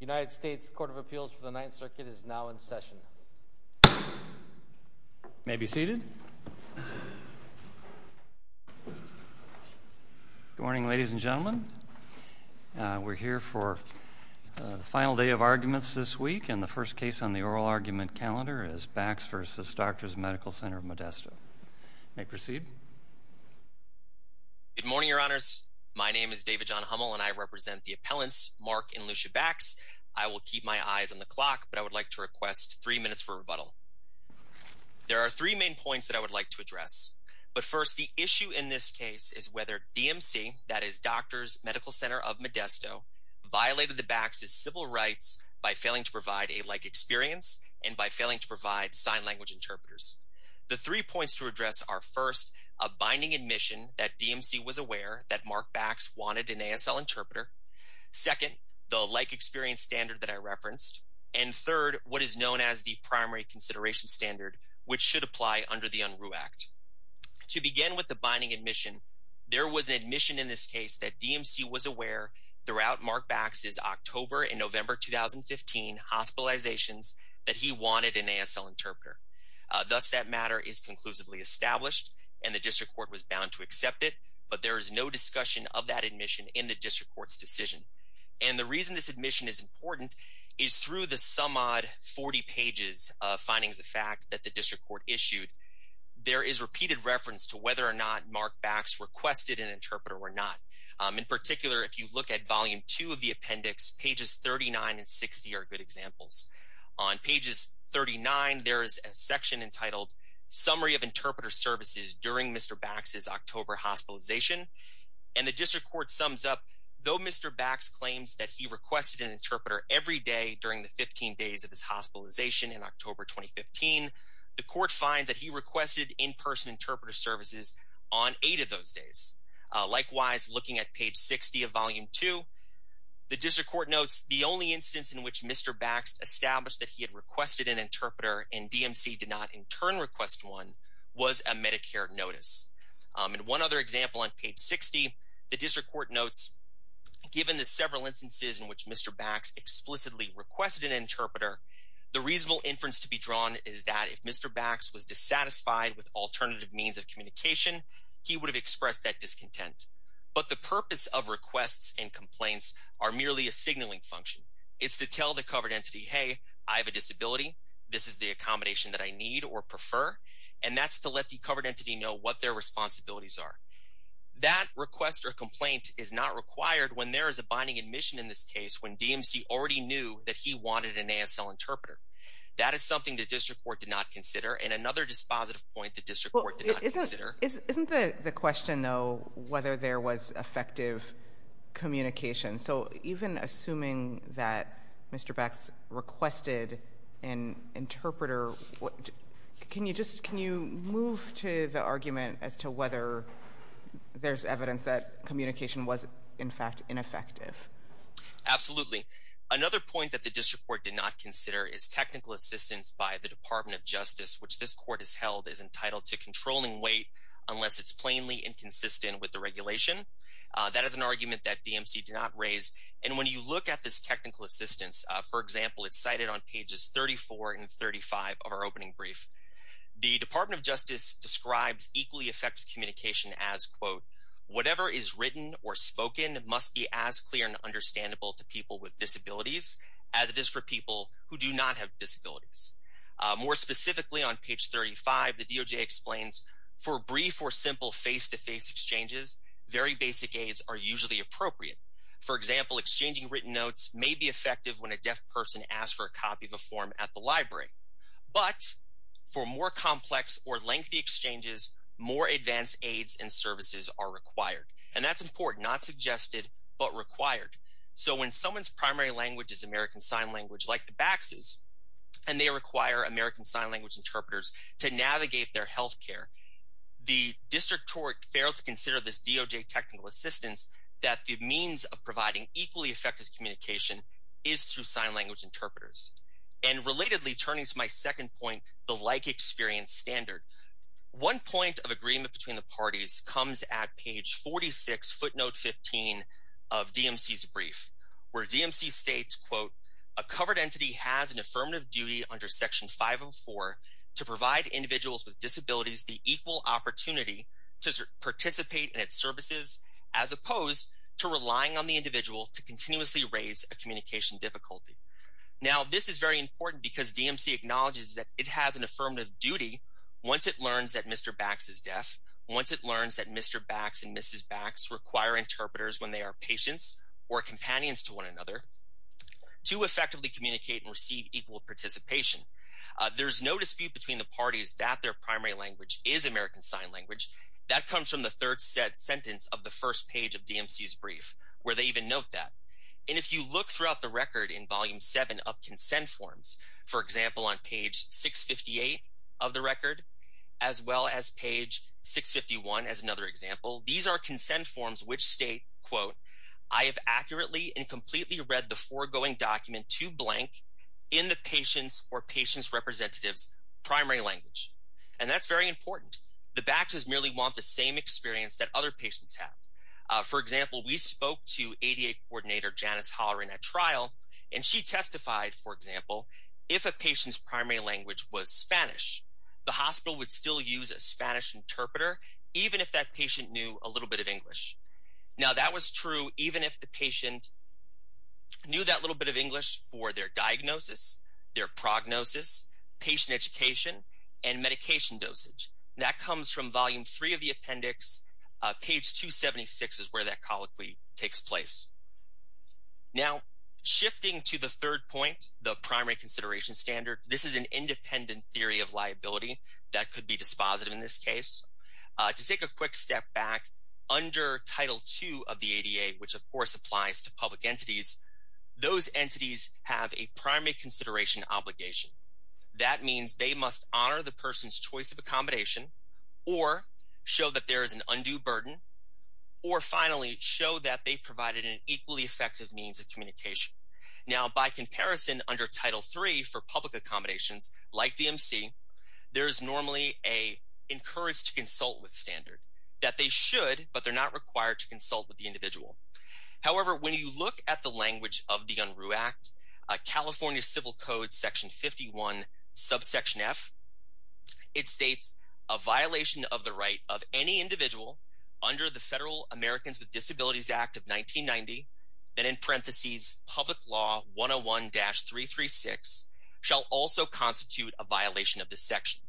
United States Court of Appeals for the Ninth Circuit is now in session. You may be seated. Good morning, ladies and gentlemen. We're here for the final day of arguments this week, and the first case on the oral argument calendar is Bax v. Doctors Med. Ctr. of Modesto. You may proceed. Good morning, Your Honors. My name is David John Hummel, and I represent the appellants, Mark and Lucia Bax. I will keep my eyes on the clock, but I would like to request three minutes for rebuttal. There are three main points that I would like to address. But first, the issue in this case is whether DMC, that is Doctors Medical Ctr. of Modesto, violated the Bax's civil rights by failing to provide a like experience and by failing to provide sign language interpreters. The three points to address are, first, a binding admission that DMC was aware that Mark Bax wanted an ASL interpreter. Second, the like experience standard that I referenced. And third, what is known as the primary consideration standard, which should apply under the Unruh Act. To begin with the binding admission, there was an admission in this case that DMC was aware throughout Mark Bax's October and November 2015 hospitalizations that he wanted an ASL interpreter. Thus, that matter is conclusively established, and the district court was bound to accept it. But there is no discussion of that admission in the district court's decision. And the reason this admission is important is through the some odd 40 pages of findings of fact that the district court issued, there is repeated reference to whether or not Mark Bax requested an interpreter or not. In particular, if you look at volume two of the appendix, pages 39 and 60 are good examples. On pages 39, there is a section entitled Summary of Interpreter Services During Mr. Bax's October Hospitalization. And the district court sums up, though Mr. Bax claims that he requested an interpreter every day during the 15 days of his hospitalization in October 2015, the court finds that he requested in-person interpreter services on eight of those days. Likewise, looking at page 60 of volume two, the district court notes the only instance in which Mr. Bax established that he had requested an interpreter and DMC did not in turn request one was a Medicare notice. And one other example on page 60, the district court notes, given the several instances in which Mr. Bax explicitly requested an interpreter, the reasonable inference to be drawn is that if Mr. Bax was dissatisfied with alternative means of communication, he would have expressed that discontent. But the purpose of requests and complaints are merely a signaling function. It's to tell the covered entity, hey, I have a disability, this is the accommodation that I need or prefer, and that's to let the covered entity know what their responsibilities are. That request or complaint is not required when there is a binding admission in this case when DMC already knew that he wanted an ASL interpreter. That is something the district court did not consider. And another dispositive point the district court did not consider. Isn't the question, though, whether there was effective communication? So even assuming that Mr. Bax requested an interpreter, can you move to the argument as to whether there's evidence that communication was in fact ineffective? Absolutely. Another point that the district court did not consider is technical assistance by the Department of Justice, which this court has held is entitled to controlling weight unless it's plainly inconsistent with the regulation. That is an argument that DMC did not raise. And when you look at this technical assistance, for example, it's cited on pages 34 and 35 of our opening brief. The Department of Justice describes equally effective communication as, quote, whatever is written or spoken must be as clear and understandable to people with disabilities as it is for people who do not have disabilities. More specifically on page 35, the DOJ explains for brief or simple face-to-face exchanges, very basic aids are usually appropriate. For example, exchanging written notes may be effective when a deaf person asks for a copy of a form at the library. But for more complex or lengthy exchanges, more advanced aids and services are required. And that's important. Not suggested, but required. So when someone's primary language is American Sign Language, like the Bax's, and they require American Sign Language interpreters to navigate their health care, the district court failed to consider this DOJ technical assistance that the means of providing equally effective communication is through sign language interpreters. And relatedly, turning to my second point, the like experience standard, one point of agreement between the parties comes at page 46, footnote 15 of DMC's brief, where DMC states, quote, a covered entity has an affirmative duty under section 504 to provide individuals with disabilities the equal opportunity to participate in its services as opposed to relying on the individual to continuously raise a communication difficulty. Now, this is very important because DMC acknowledges that it has an affirmative duty once it learns that Mr. Bax is deaf, once it learns that Mr. Bax and Mrs. Bax require interpreters when they are patients or companions to one another to effectively communicate and receive equal participation. There's no dispute between the parties that their primary language is American Sign Language. That comes from the third sentence of the first page of DMC's brief, where they even note that. And if you look throughout the record in volume seven of consent forms, for example, on page 658 of the record, as well as page 651 as another example, these are consent forms which state, quote, I have accurately and completely read the foregoing document to blank in the patient's or patient's representative's primary language. And that's very important. The Baxes merely want the same experience that other patients have. For example, we spoke to ADA coordinator Janice Hollering at trial, and she testified, for example, if a patient's primary language was Spanish, the hospital would still use a Spanish interpreter, even if that patient knew a little bit of English. Now, that was true even if the patient knew that little bit of English for their diagnosis, their prognosis, patient education, and medication dosage. That comes from volume three of the appendix. Page 276 is where that colloquy takes place. Now, shifting to the third point, the primary consideration standard, this is an independent theory of liability that could be dispositive in this case. To take a quick step back, under Title II of the ADA, which of course applies to public entities, those entities have a primary consideration obligation. That means they must honor the person's choice of accommodation, or show that there is an undue burden, or finally, show that they provided an equally effective means of communication. Now, by comparison, under Title III for public accommodations, like DMC, there's normally an encouraged consult with standard, that they should, but they're not required to consult with the individual. However, when you look at the language of the UNRU Act, California Civil Code, Section 51, Subsection F, it states, a violation of the right of any individual under the Federal Americans with Disabilities Act of 1990, then in parentheses, Public Law 101-336, shall also constitute a violation of this section.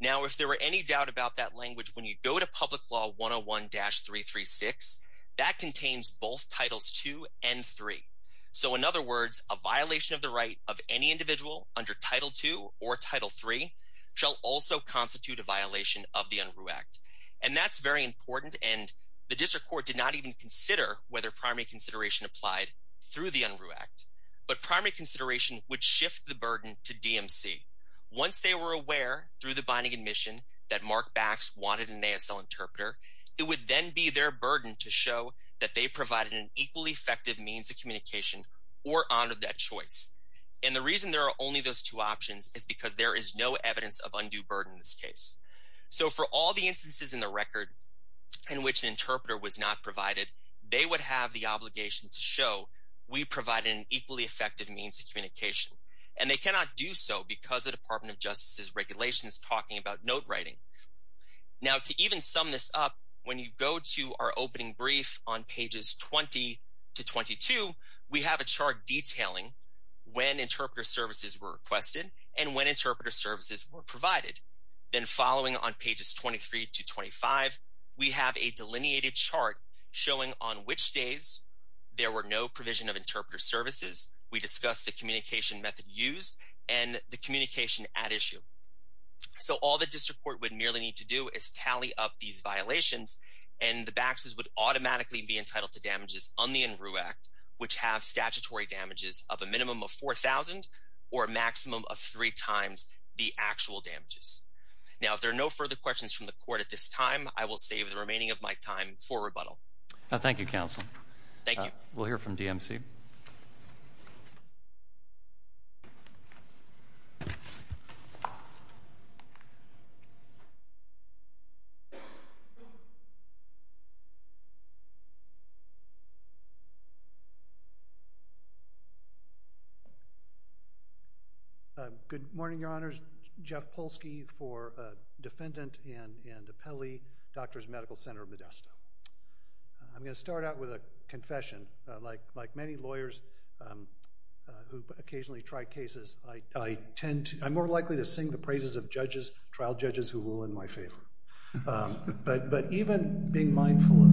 Now, if there were any doubt about that language, when you go to Public Law 101-336, that contains both Titles II and III. So, in other words, a violation of the right of any individual under Title II or Title III, shall also constitute a violation of the UNRU Act. And that's very important, and the District Court did not even consider whether primary consideration applied through the UNRU Act. But primary consideration would shift the burden to DMC. Once they were aware, through the binding admission, that Mark Bax wanted an ASL interpreter, it would then be their burden to show that they provided an equally effective means of communication, or honored that choice. And the reason there are only those two options is because there is no evidence of undue burden in this case. So, for all the instances in the record in which an interpreter was not provided, they would have the obligation to show, we provide an equally effective means of communication. And they cannot do so because the Department of Justice's regulation is talking about note writing. Now, to even sum this up, when you go to our opening brief on pages 20-22, we have a chart detailing when interpreter services were requested and when interpreter services were provided. Then, following on pages 23-25, we have a delineated chart showing on which days there were no provision of interpreter services. We discussed the communication method used and the communication at issue. So, all the district court would merely need to do is tally up these violations, and the Baxes would automatically be entitled to damages on the UNRU Act, which have statutory damages of a minimum of 4,000 or a maximum of three times the actual damages. Now, if there are no further questions from the court at this time, I will save the remaining of my time for rebuttal. Thank you, counsel. Thank you. We'll hear from DMC. Good morning, Your Honors. Jeff Polsky for Defendant and Appellee, Doctors Medical Center of Modesto. I'm going to start out with a confession. Like many lawyers who occasionally try cases, I'm more likely to sing the praises of trial judges who rule in my favor. But even being mindful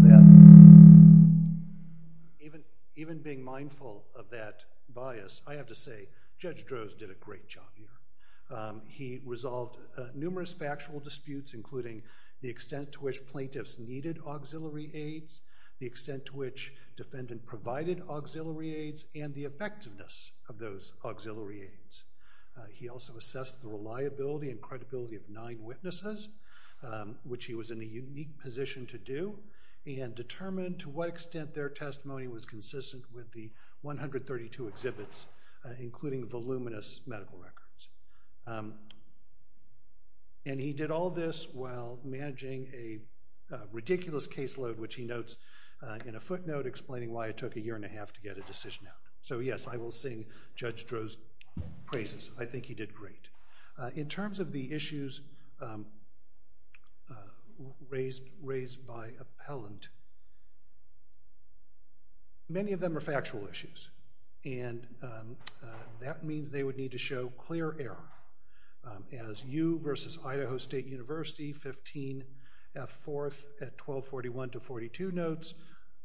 of that bias, I have to say, Judge Droz did a great job here. He resolved numerous factual disputes, including the extent to which plaintiffs needed auxiliary aids, the extent to which defendant provided auxiliary aids, and the effectiveness of those auxiliary aids. He also assessed the reliability and credibility of nine witnesses, which he was in a unique position to do, and determined to what extent their testimony was consistent with the 132 exhibits, including voluminous medical records. And he did all this while managing a ridiculous caseload, which he notes in a footnote explaining why it took a year and a half to get a decision out. So yes, I will sing Judge Droz's praises. I think he did great. In terms of the issues raised by appellant, many of them are factual issues, and that means they would need to show clear error. As U v. Idaho State University 15F4 at 1241-42 notes,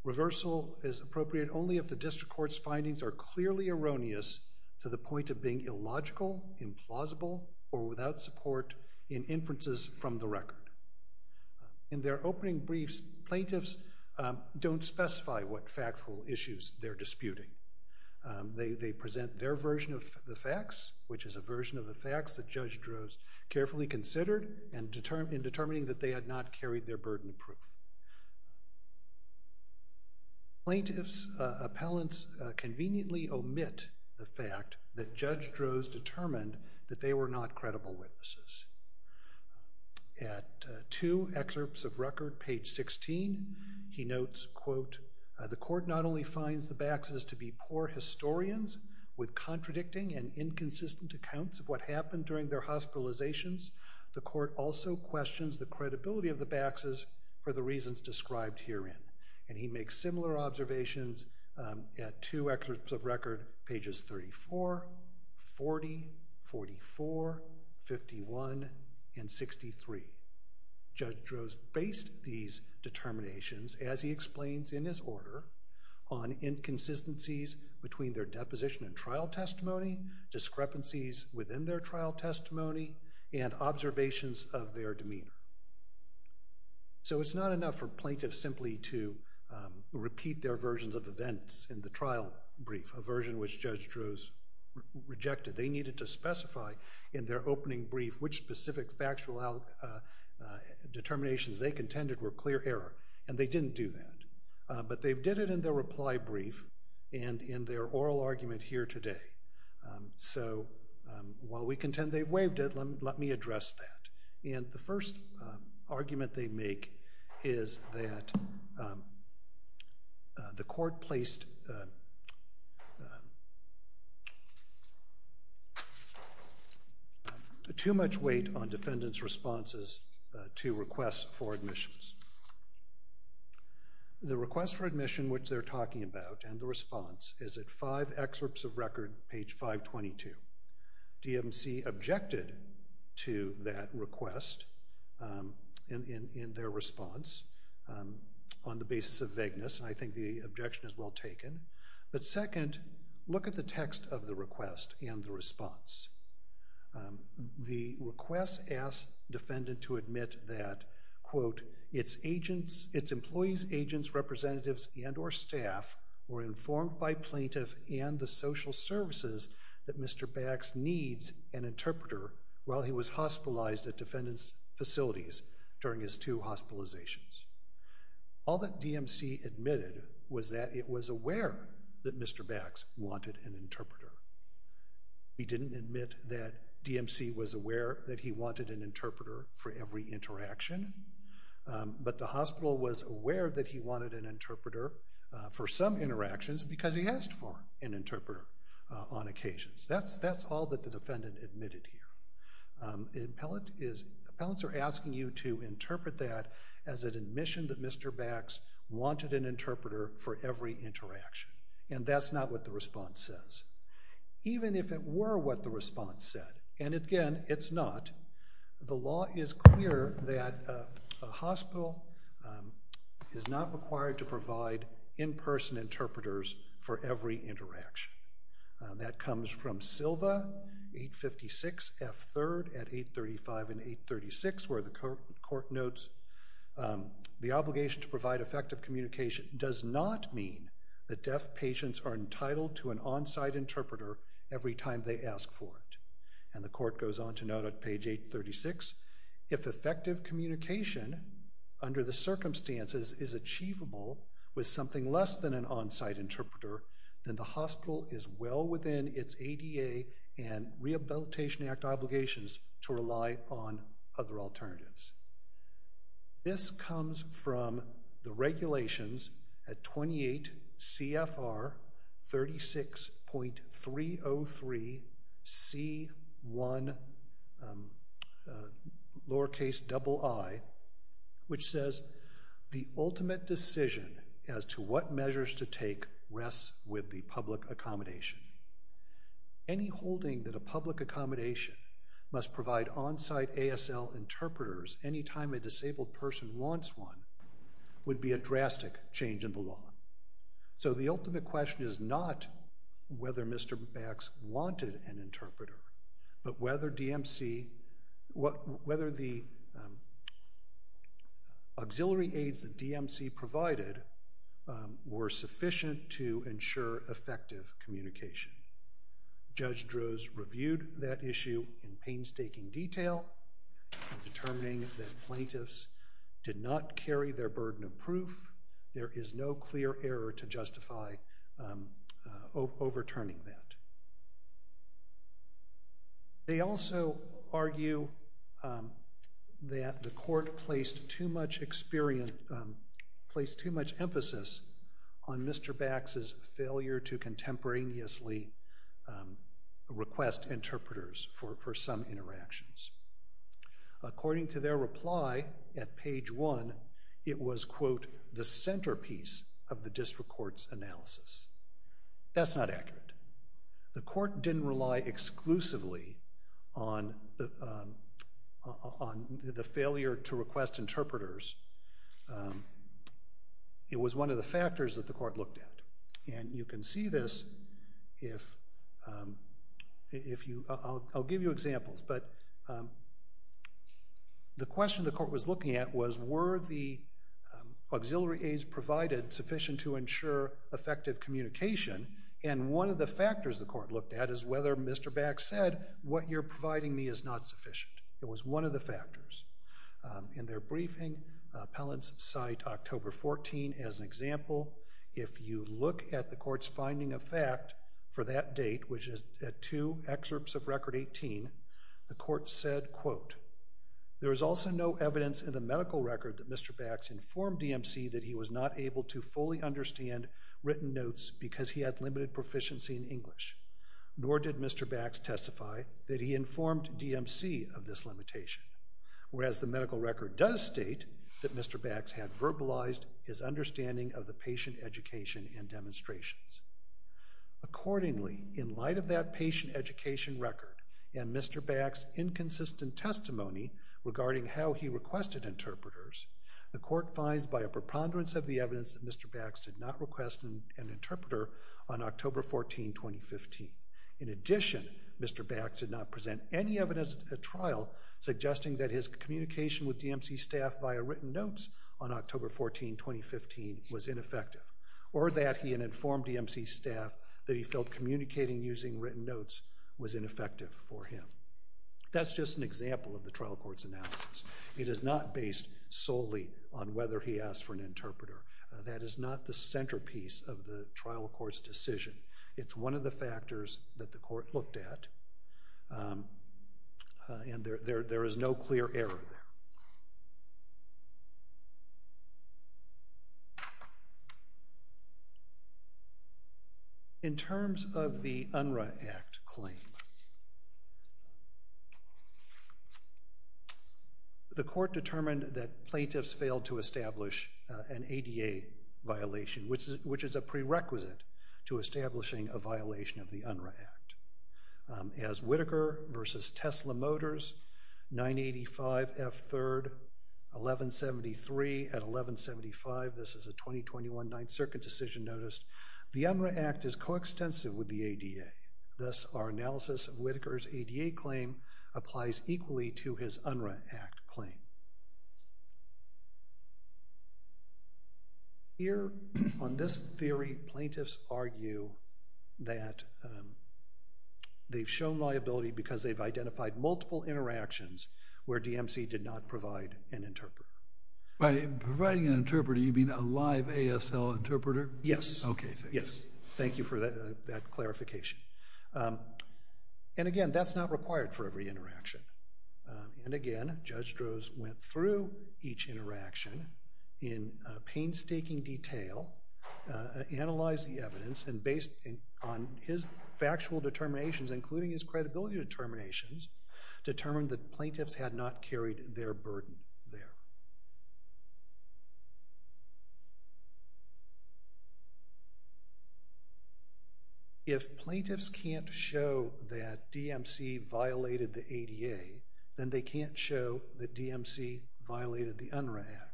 reversal is appropriate only if the district court's findings are clearly erroneous to the point of being illogical, implausible, or without support in inferences from the record. In their opening briefs, plaintiffs don't specify what factual issues they're disputing. They present their version of the facts, which is a version of the facts that Judge Droz carefully considered in determining that they had not carried their burden proof. Plaintiffs' appellants conveniently omit the fact that Judge Droz determined that they were not credible witnesses. At two excerpts of record, page 16, he notes, quote, The court not only finds the Baxes to be poor historians with contradicting and inconsistent accounts of what happened during their hospitalizations, the court also questions the credibility of the Baxes for the reasons described herein. And he makes similar observations at two excerpts of record, pages 34, 40, 44, 51, and 63. Judge Droz based these determinations, as he explains in his order, on inconsistencies between their deposition and trial testimony, discrepancies within their trial testimony, and observations of their demeanor. So it's not enough for plaintiffs simply to repeat their versions of events in the trial brief, a version which Judge Droz rejected. They needed to specify in their opening brief which specific factual determinations they contended were clear error. And they didn't do that. But they did it in their reply brief and in their oral argument here today. So while we contend they waived it, let me address that. And the first argument they make is that the court placed too much weight on defendants' responses to requests for admissions. The request for admission, which they're talking about, and the response is at five excerpts of record, page 522. DMC objected to that request in their response on the basis of vagueness. And I think the objection is well taken. But second, look at the text of the request and the response. The request asked defendant to admit that, quote, All that DMC admitted was that it was aware that Mr. Bax wanted an interpreter. He didn't admit that DMC was aware that he wanted an interpreter for every interaction. But the hospital was aware that he wanted an interpreter for some interactions because he asked for an interpreter on occasions. That's all that the defendant admitted here. Appellants are asking you to interpret that as an admission that Mr. Bax wanted an interpreter for every interaction. And that's not what the response says, even if it were what the response said. And again, it's not. The law is clear that a hospital is not required to provide in-person interpreters for every interaction. That comes from Silva, 856F3 at 835 and 836, where the court notes, And the court goes on to note at page 836, is well within its ADA and Rehabilitation Act obligations to rely on other alternatives. This comes from the regulations at 28 CFR 36.303C1, lowercase double I, which says, So the ultimate question is not whether Mr. Bax wanted an interpreter, but whether the auxiliary aids that DMC provided were sufficient to ensure effective communication. Judge Droz reviewed that issue in painstaking detail, determining that plaintiffs did not carry their burden of proof. There is no clear error to justify overturning that. They also argue that the court placed too much emphasis on Mr. Bax's failure to contemporaneously request interpreters for some interactions. According to their reply at page 1, it was, That's not accurate. The court didn't rely exclusively on the failure to request interpreters. It was one of the factors that the court looked at. And you can see this if you, I'll give you examples, but the question the court was looking at was, were the auxiliary aids provided sufficient to ensure effective communication? And one of the factors the court looked at is whether Mr. Bax said, what you're providing me is not sufficient. It was one of the factors. In their briefing, appellants cite October 14 as an example. If you look at the court's finding of fact for that date, which is at two excerpts of record 18, the court said, Nor did Mr. Bax testify that he informed DMC of this limitation. Whereas the medical record does state that Mr. Bax had verbalized his understanding of the patient education and demonstrations. Accordingly, in light of that patient education record and Mr. Bax's inconsistent testimony regarding how he requested interpreters, the court finds by a preponderance of the evidence that Mr. Bax did not request an interpreter on October 14, 2015. In addition, Mr. Bax did not present any evidence at trial suggesting that his communication with DMC staff via written notes on October 14, 2015 was ineffective, or that he had informed DMC staff that he felt communicating using written notes was ineffective for him. That's just an example of the trial court's analysis. It is not based solely on whether he asked for an interpreter. That is not the centerpiece of the trial court's decision. It's one of the factors that the court looked at, and there is no clear error there. In terms of the UNRWA Act claim, the court determined that plaintiffs failed to establish an ADA violation, which is a prerequisite to establishing a violation of the UNRWA Act. As Whitaker v. Tesla Motors, 985 F. 3rd, 1173 at 1175, this is a 2021 Ninth Circuit decision notice, the UNRWA Act is coextensive with the ADA. Thus, our analysis of Whitaker's ADA claim applies equally to his UNRWA Act claim. Here, on this theory, plaintiffs argue that they've shown liability because they've identified multiple interactions where DMC did not provide an interpreter. By providing an interpreter, you mean a live ASL interpreter? Yes. Okay, thanks. Thank you for that clarification. Again, that's not required for every interaction. Again, Judge Droz went through each interaction in painstaking detail, analyzed the evidence, and based on his factual determinations, including his credibility determinations, determined that plaintiffs had not carried their burden there. If plaintiffs can't show that DMC violated the ADA, then they can't show that DMC violated the UNRWA Act.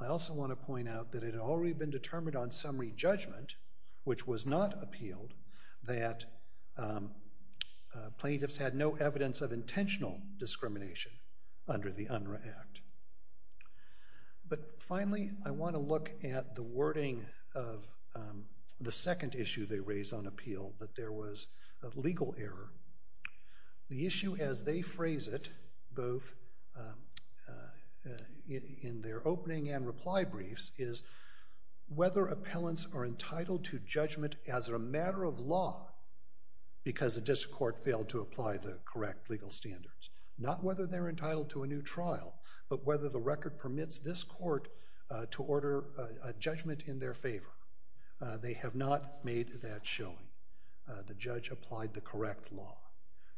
I also want to point out that it had already been determined on summary judgment, which was not appealed, that plaintiffs had no evidence of intentional discrimination under the UNRWA Act. But finally, I want to look at the wording of the second issue they raised on appeal, that there was a legal error. The issue as they phrase it, both in their opening and reply briefs, is whether appellants are entitled to judgment as a matter of law because the district court failed to apply the correct legal standards. Not whether they're entitled to a new trial, but whether the record permits this court to order a judgment in their favor. They have not made that shown. The judge applied the correct law.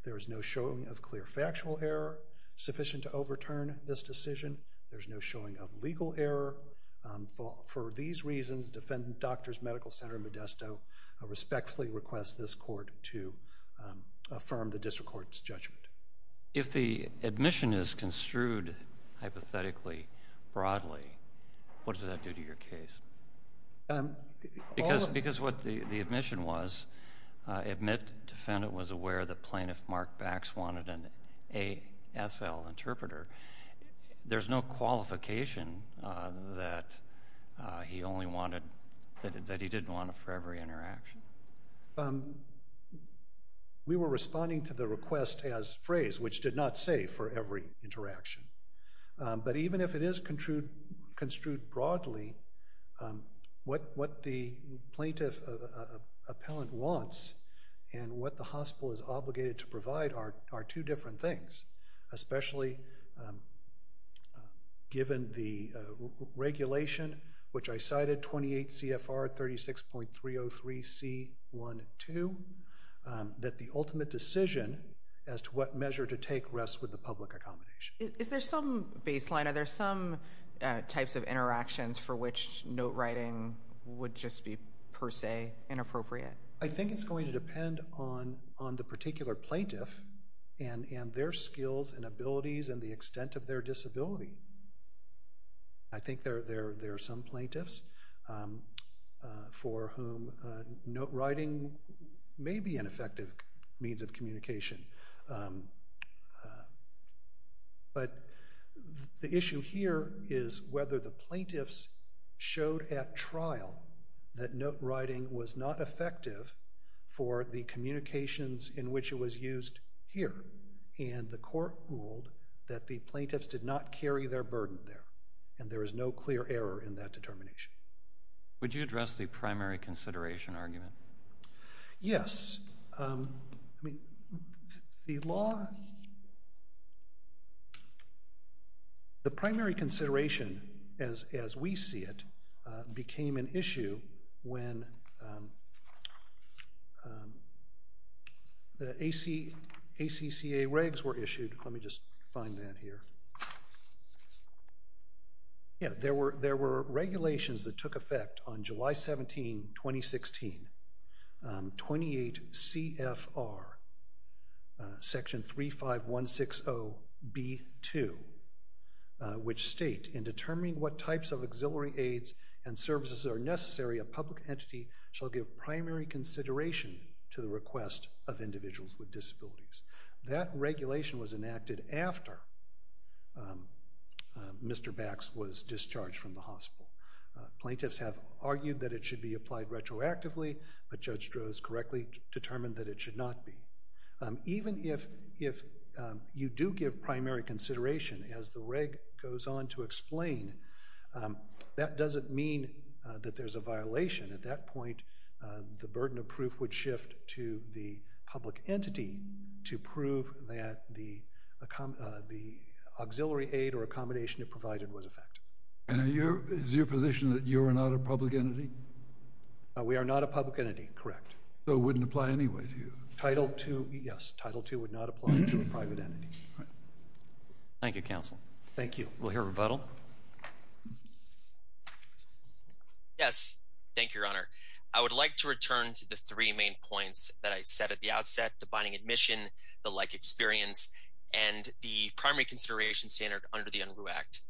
There is no showing of clear factual error sufficient to overturn this decision. There's no showing of legal error. For these reasons, Defendant Doctors' Medical Center Modesto respectfully requests this court to affirm the district court's judgment. If the admission is construed hypothetically broadly, what does that do to your case? Because what the admission was, admit defendant was aware that Plaintiff Mark Bax wanted an ASL interpreter. There's no qualification that he didn't want for every interaction. We were responding to the request as phrased, which did not say for every interaction. But even if it is construed broadly, what the plaintiff appellant wants and what the hospital is obligated to provide are two different things, especially given the regulation, which I cited, 28 CFR 36.303C12, that the ultimate decision as to what measure to take rests with the public accommodation. Is there some baseline? Are there some types of interactions for which note writing would just be per se inappropriate? I think it's going to depend on the particular plaintiff and their skills and abilities and the extent of their disability. I think there are some plaintiffs for whom note writing may be an effective means of communication. But the issue here is whether the plaintiffs showed at trial that note writing was not effective for the communications in which it was used here, and the court ruled that the plaintiffs did not carry their burden there, and there is no clear error in that determination. Would you address the primary consideration argument? Yes. The law, the primary consideration as we see it, became an issue when the ACCA regs were issued. Let me just find that here. Yes, there were regulations that took effect on July 17, 2016, 28 CFR section 35160B2, which state, in determining what types of auxiliary aids and services are necessary, a public entity shall give primary consideration to the request of individuals with disabilities. That regulation was enacted after Mr. Bax was discharged from the hospital. Plaintiffs have argued that it should be applied retroactively, but Judge Stroh has correctly determined that it should not be. Even if you do give primary consideration, as the reg goes on to explain, that doesn't mean that there's a violation. At that point, the burden of proof would shift to the public entity to prove that the auxiliary aid or accommodation it provided was effective. Is your position that you are not a public entity? We are not a public entity, correct. So it wouldn't apply anyway to you? Title II, yes. Title II would not apply to a private entity. Thank you, counsel. Thank you. We'll hear rebuttal. Yes, thank you, Your Honor. I would like to return to the three main points that I said at the outset, the binding admission, the like experience, and the primary consideration standard under the UNRU Act.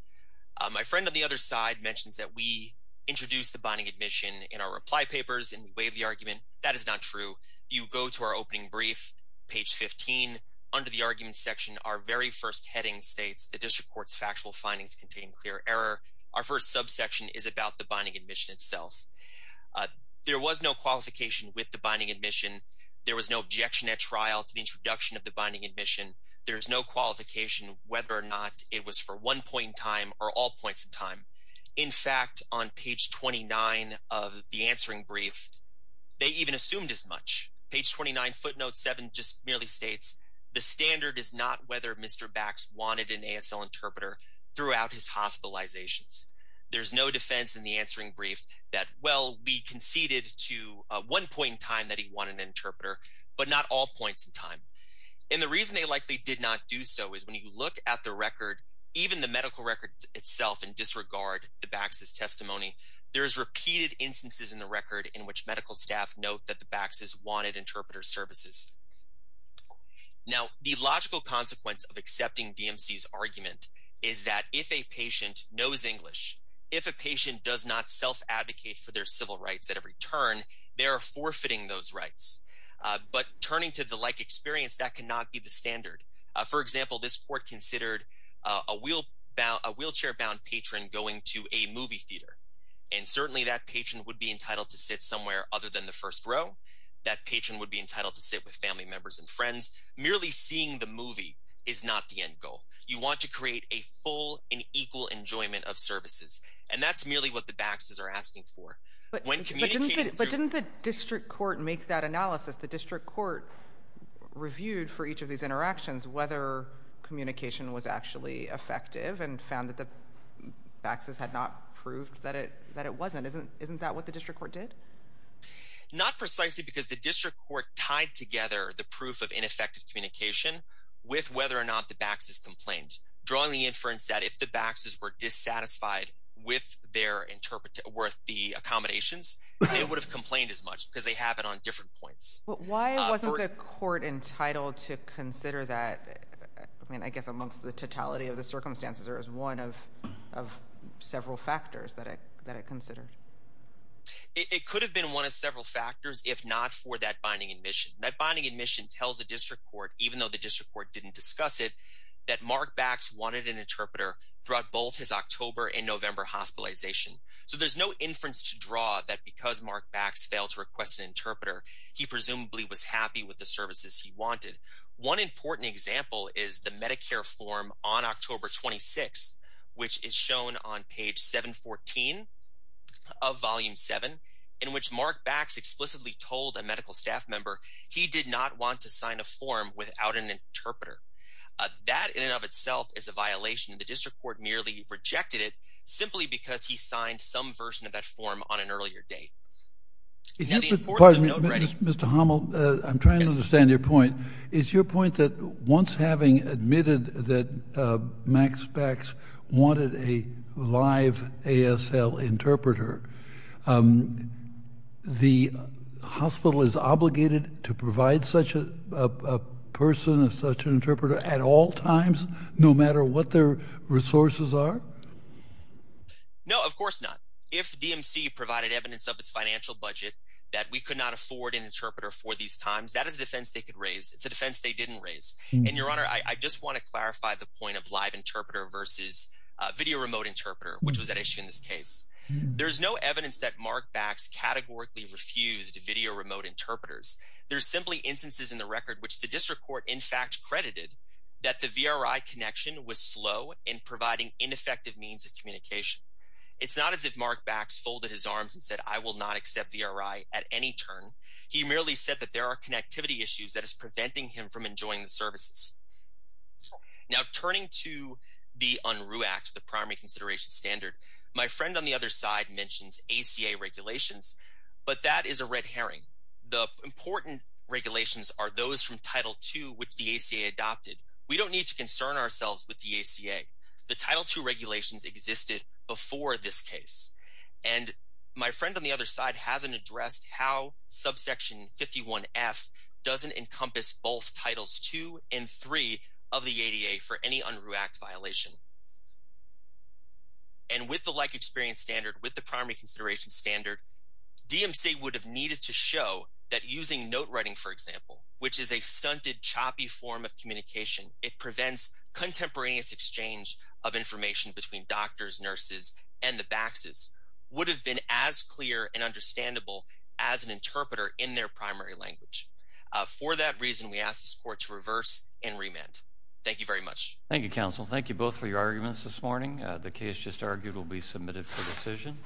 My friend on the other side mentions that we introduced the binding admission in our reply papers and we waived the argument. That is not true. You go to our opening brief, page 15. Under the argument section, our very first heading states that this report's factual findings contain clear error. Our first subsection is about the binding admission itself. There was no qualification with the binding admission. There was no objection at trial to the introduction of the binding admission. There is no qualification whether or not it was for one point in time or all points in time. In fact, on page 29 of the answering brief, they even assumed as much. Page 29, footnote 7 just merely states, the standard is not whether Mr. Bax wanted an ASL interpreter throughout his hospitalizations. There's no defense in the answering brief that, well, we conceded to one point in time that he wanted an interpreter, but not all points in time. And the reason they likely did not do so is when you look at the record, even the medical record itself and disregard the Bax's testimony, there is repeated instances in the record in which medical staff note that the Bax's wanted interpreter services. Now, the logical consequence of accepting DMC's argument is that if a patient knows English, if a patient does not self-advocate for their civil rights at every turn, they are forfeiting those rights. But turning to the like experience, that cannot be the standard. For example, this court considered a wheelchair-bound patron going to a movie theater, and certainly that patron would be entitled to sit somewhere other than the first row. That patron would be entitled to sit with family members and friends. Merely seeing the movie is not the end goal. You want to create a full and equal enjoyment of services, and that's merely what the Bax's are asking for. But didn't the district court make that analysis? The district court reviewed for each of these interactions whether communication was actually effective and found that the Bax's had not proved that it wasn't. Isn't that what the district court did? Not precisely because the district court tied together the proof of ineffective communication with whether or not the Bax's complained, drawing the inference that if the Bax's were dissatisfied with the accommodations, they would have complained as much because they have it on different points. Why wasn't the court entitled to consider that, I mean, I guess amongst the totality of the circumstances, or as one of several factors that it considered? It could have been one of several factors if not for that binding admission. That binding admission tells the district court, even though the district court didn't discuss it, that Mark Bax wanted an interpreter throughout both his October and November hospitalization. So there's no inference to draw that because Mark Bax failed to request an interpreter, he presumably was happy with the services he wanted. One important example is the Medicare form on October 26th, which is shown on page 714 of volume 7, in which Mark Bax explicitly told a medical staff member he did not want to sign a form without an interpreter. That in and of itself is a violation. The district court merely rejected it simply because he signed some version of that form on an earlier date. Mr. Homel, I'm trying to understand your point. Is your point that once having admitted that Max Bax wanted a live ASL interpreter, the hospital is obligated to provide such a person, such an interpreter, at all times, no matter what their resources are? No, of course not. If DMC provided evidence of its financial budget that we could not afford an interpreter for these times, that is a defense they could raise. It's a defense they didn't raise. And, Your Honor, I just want to clarify the point of live interpreter versus video remote interpreter, which was at issue in this case. There's no evidence that Mark Bax categorically refused video remote interpreters. There's simply instances in the record which the district court, in fact, credited that the VRI connection was slow in providing ineffective means of communication. It's not as if Mark Bax folded his arms and said, I will not accept VRI at any turn. He merely said that there are connectivity issues that is preventing him from enjoying the services. Now, turning to the Unruh Act, the primary consideration standard, my friend on the other side mentions ACA regulations, but that is a red herring. The important regulations are those from Title II which the ACA adopted. We don't need to concern ourselves with the ACA. The Title II regulations existed before this case. And my friend on the other side hasn't addressed how subsection 51F doesn't encompass both Titles II and III of the ADA for any Unruh Act violation. And with the like experience standard, with the primary consideration standard, DMC would have needed to show that using note writing, for example, which is a stunted, choppy form of communication, it prevents contemporaneous exchange of information between doctors, nurses, and the Baxes, would have been as clear and understandable as an interpreter in their primary language. For that reason, we ask this Court to reverse and remand. Thank you very much. Thank you, Counsel. Thank you both for your arguments this morning. The case just argued will be submitted for decision.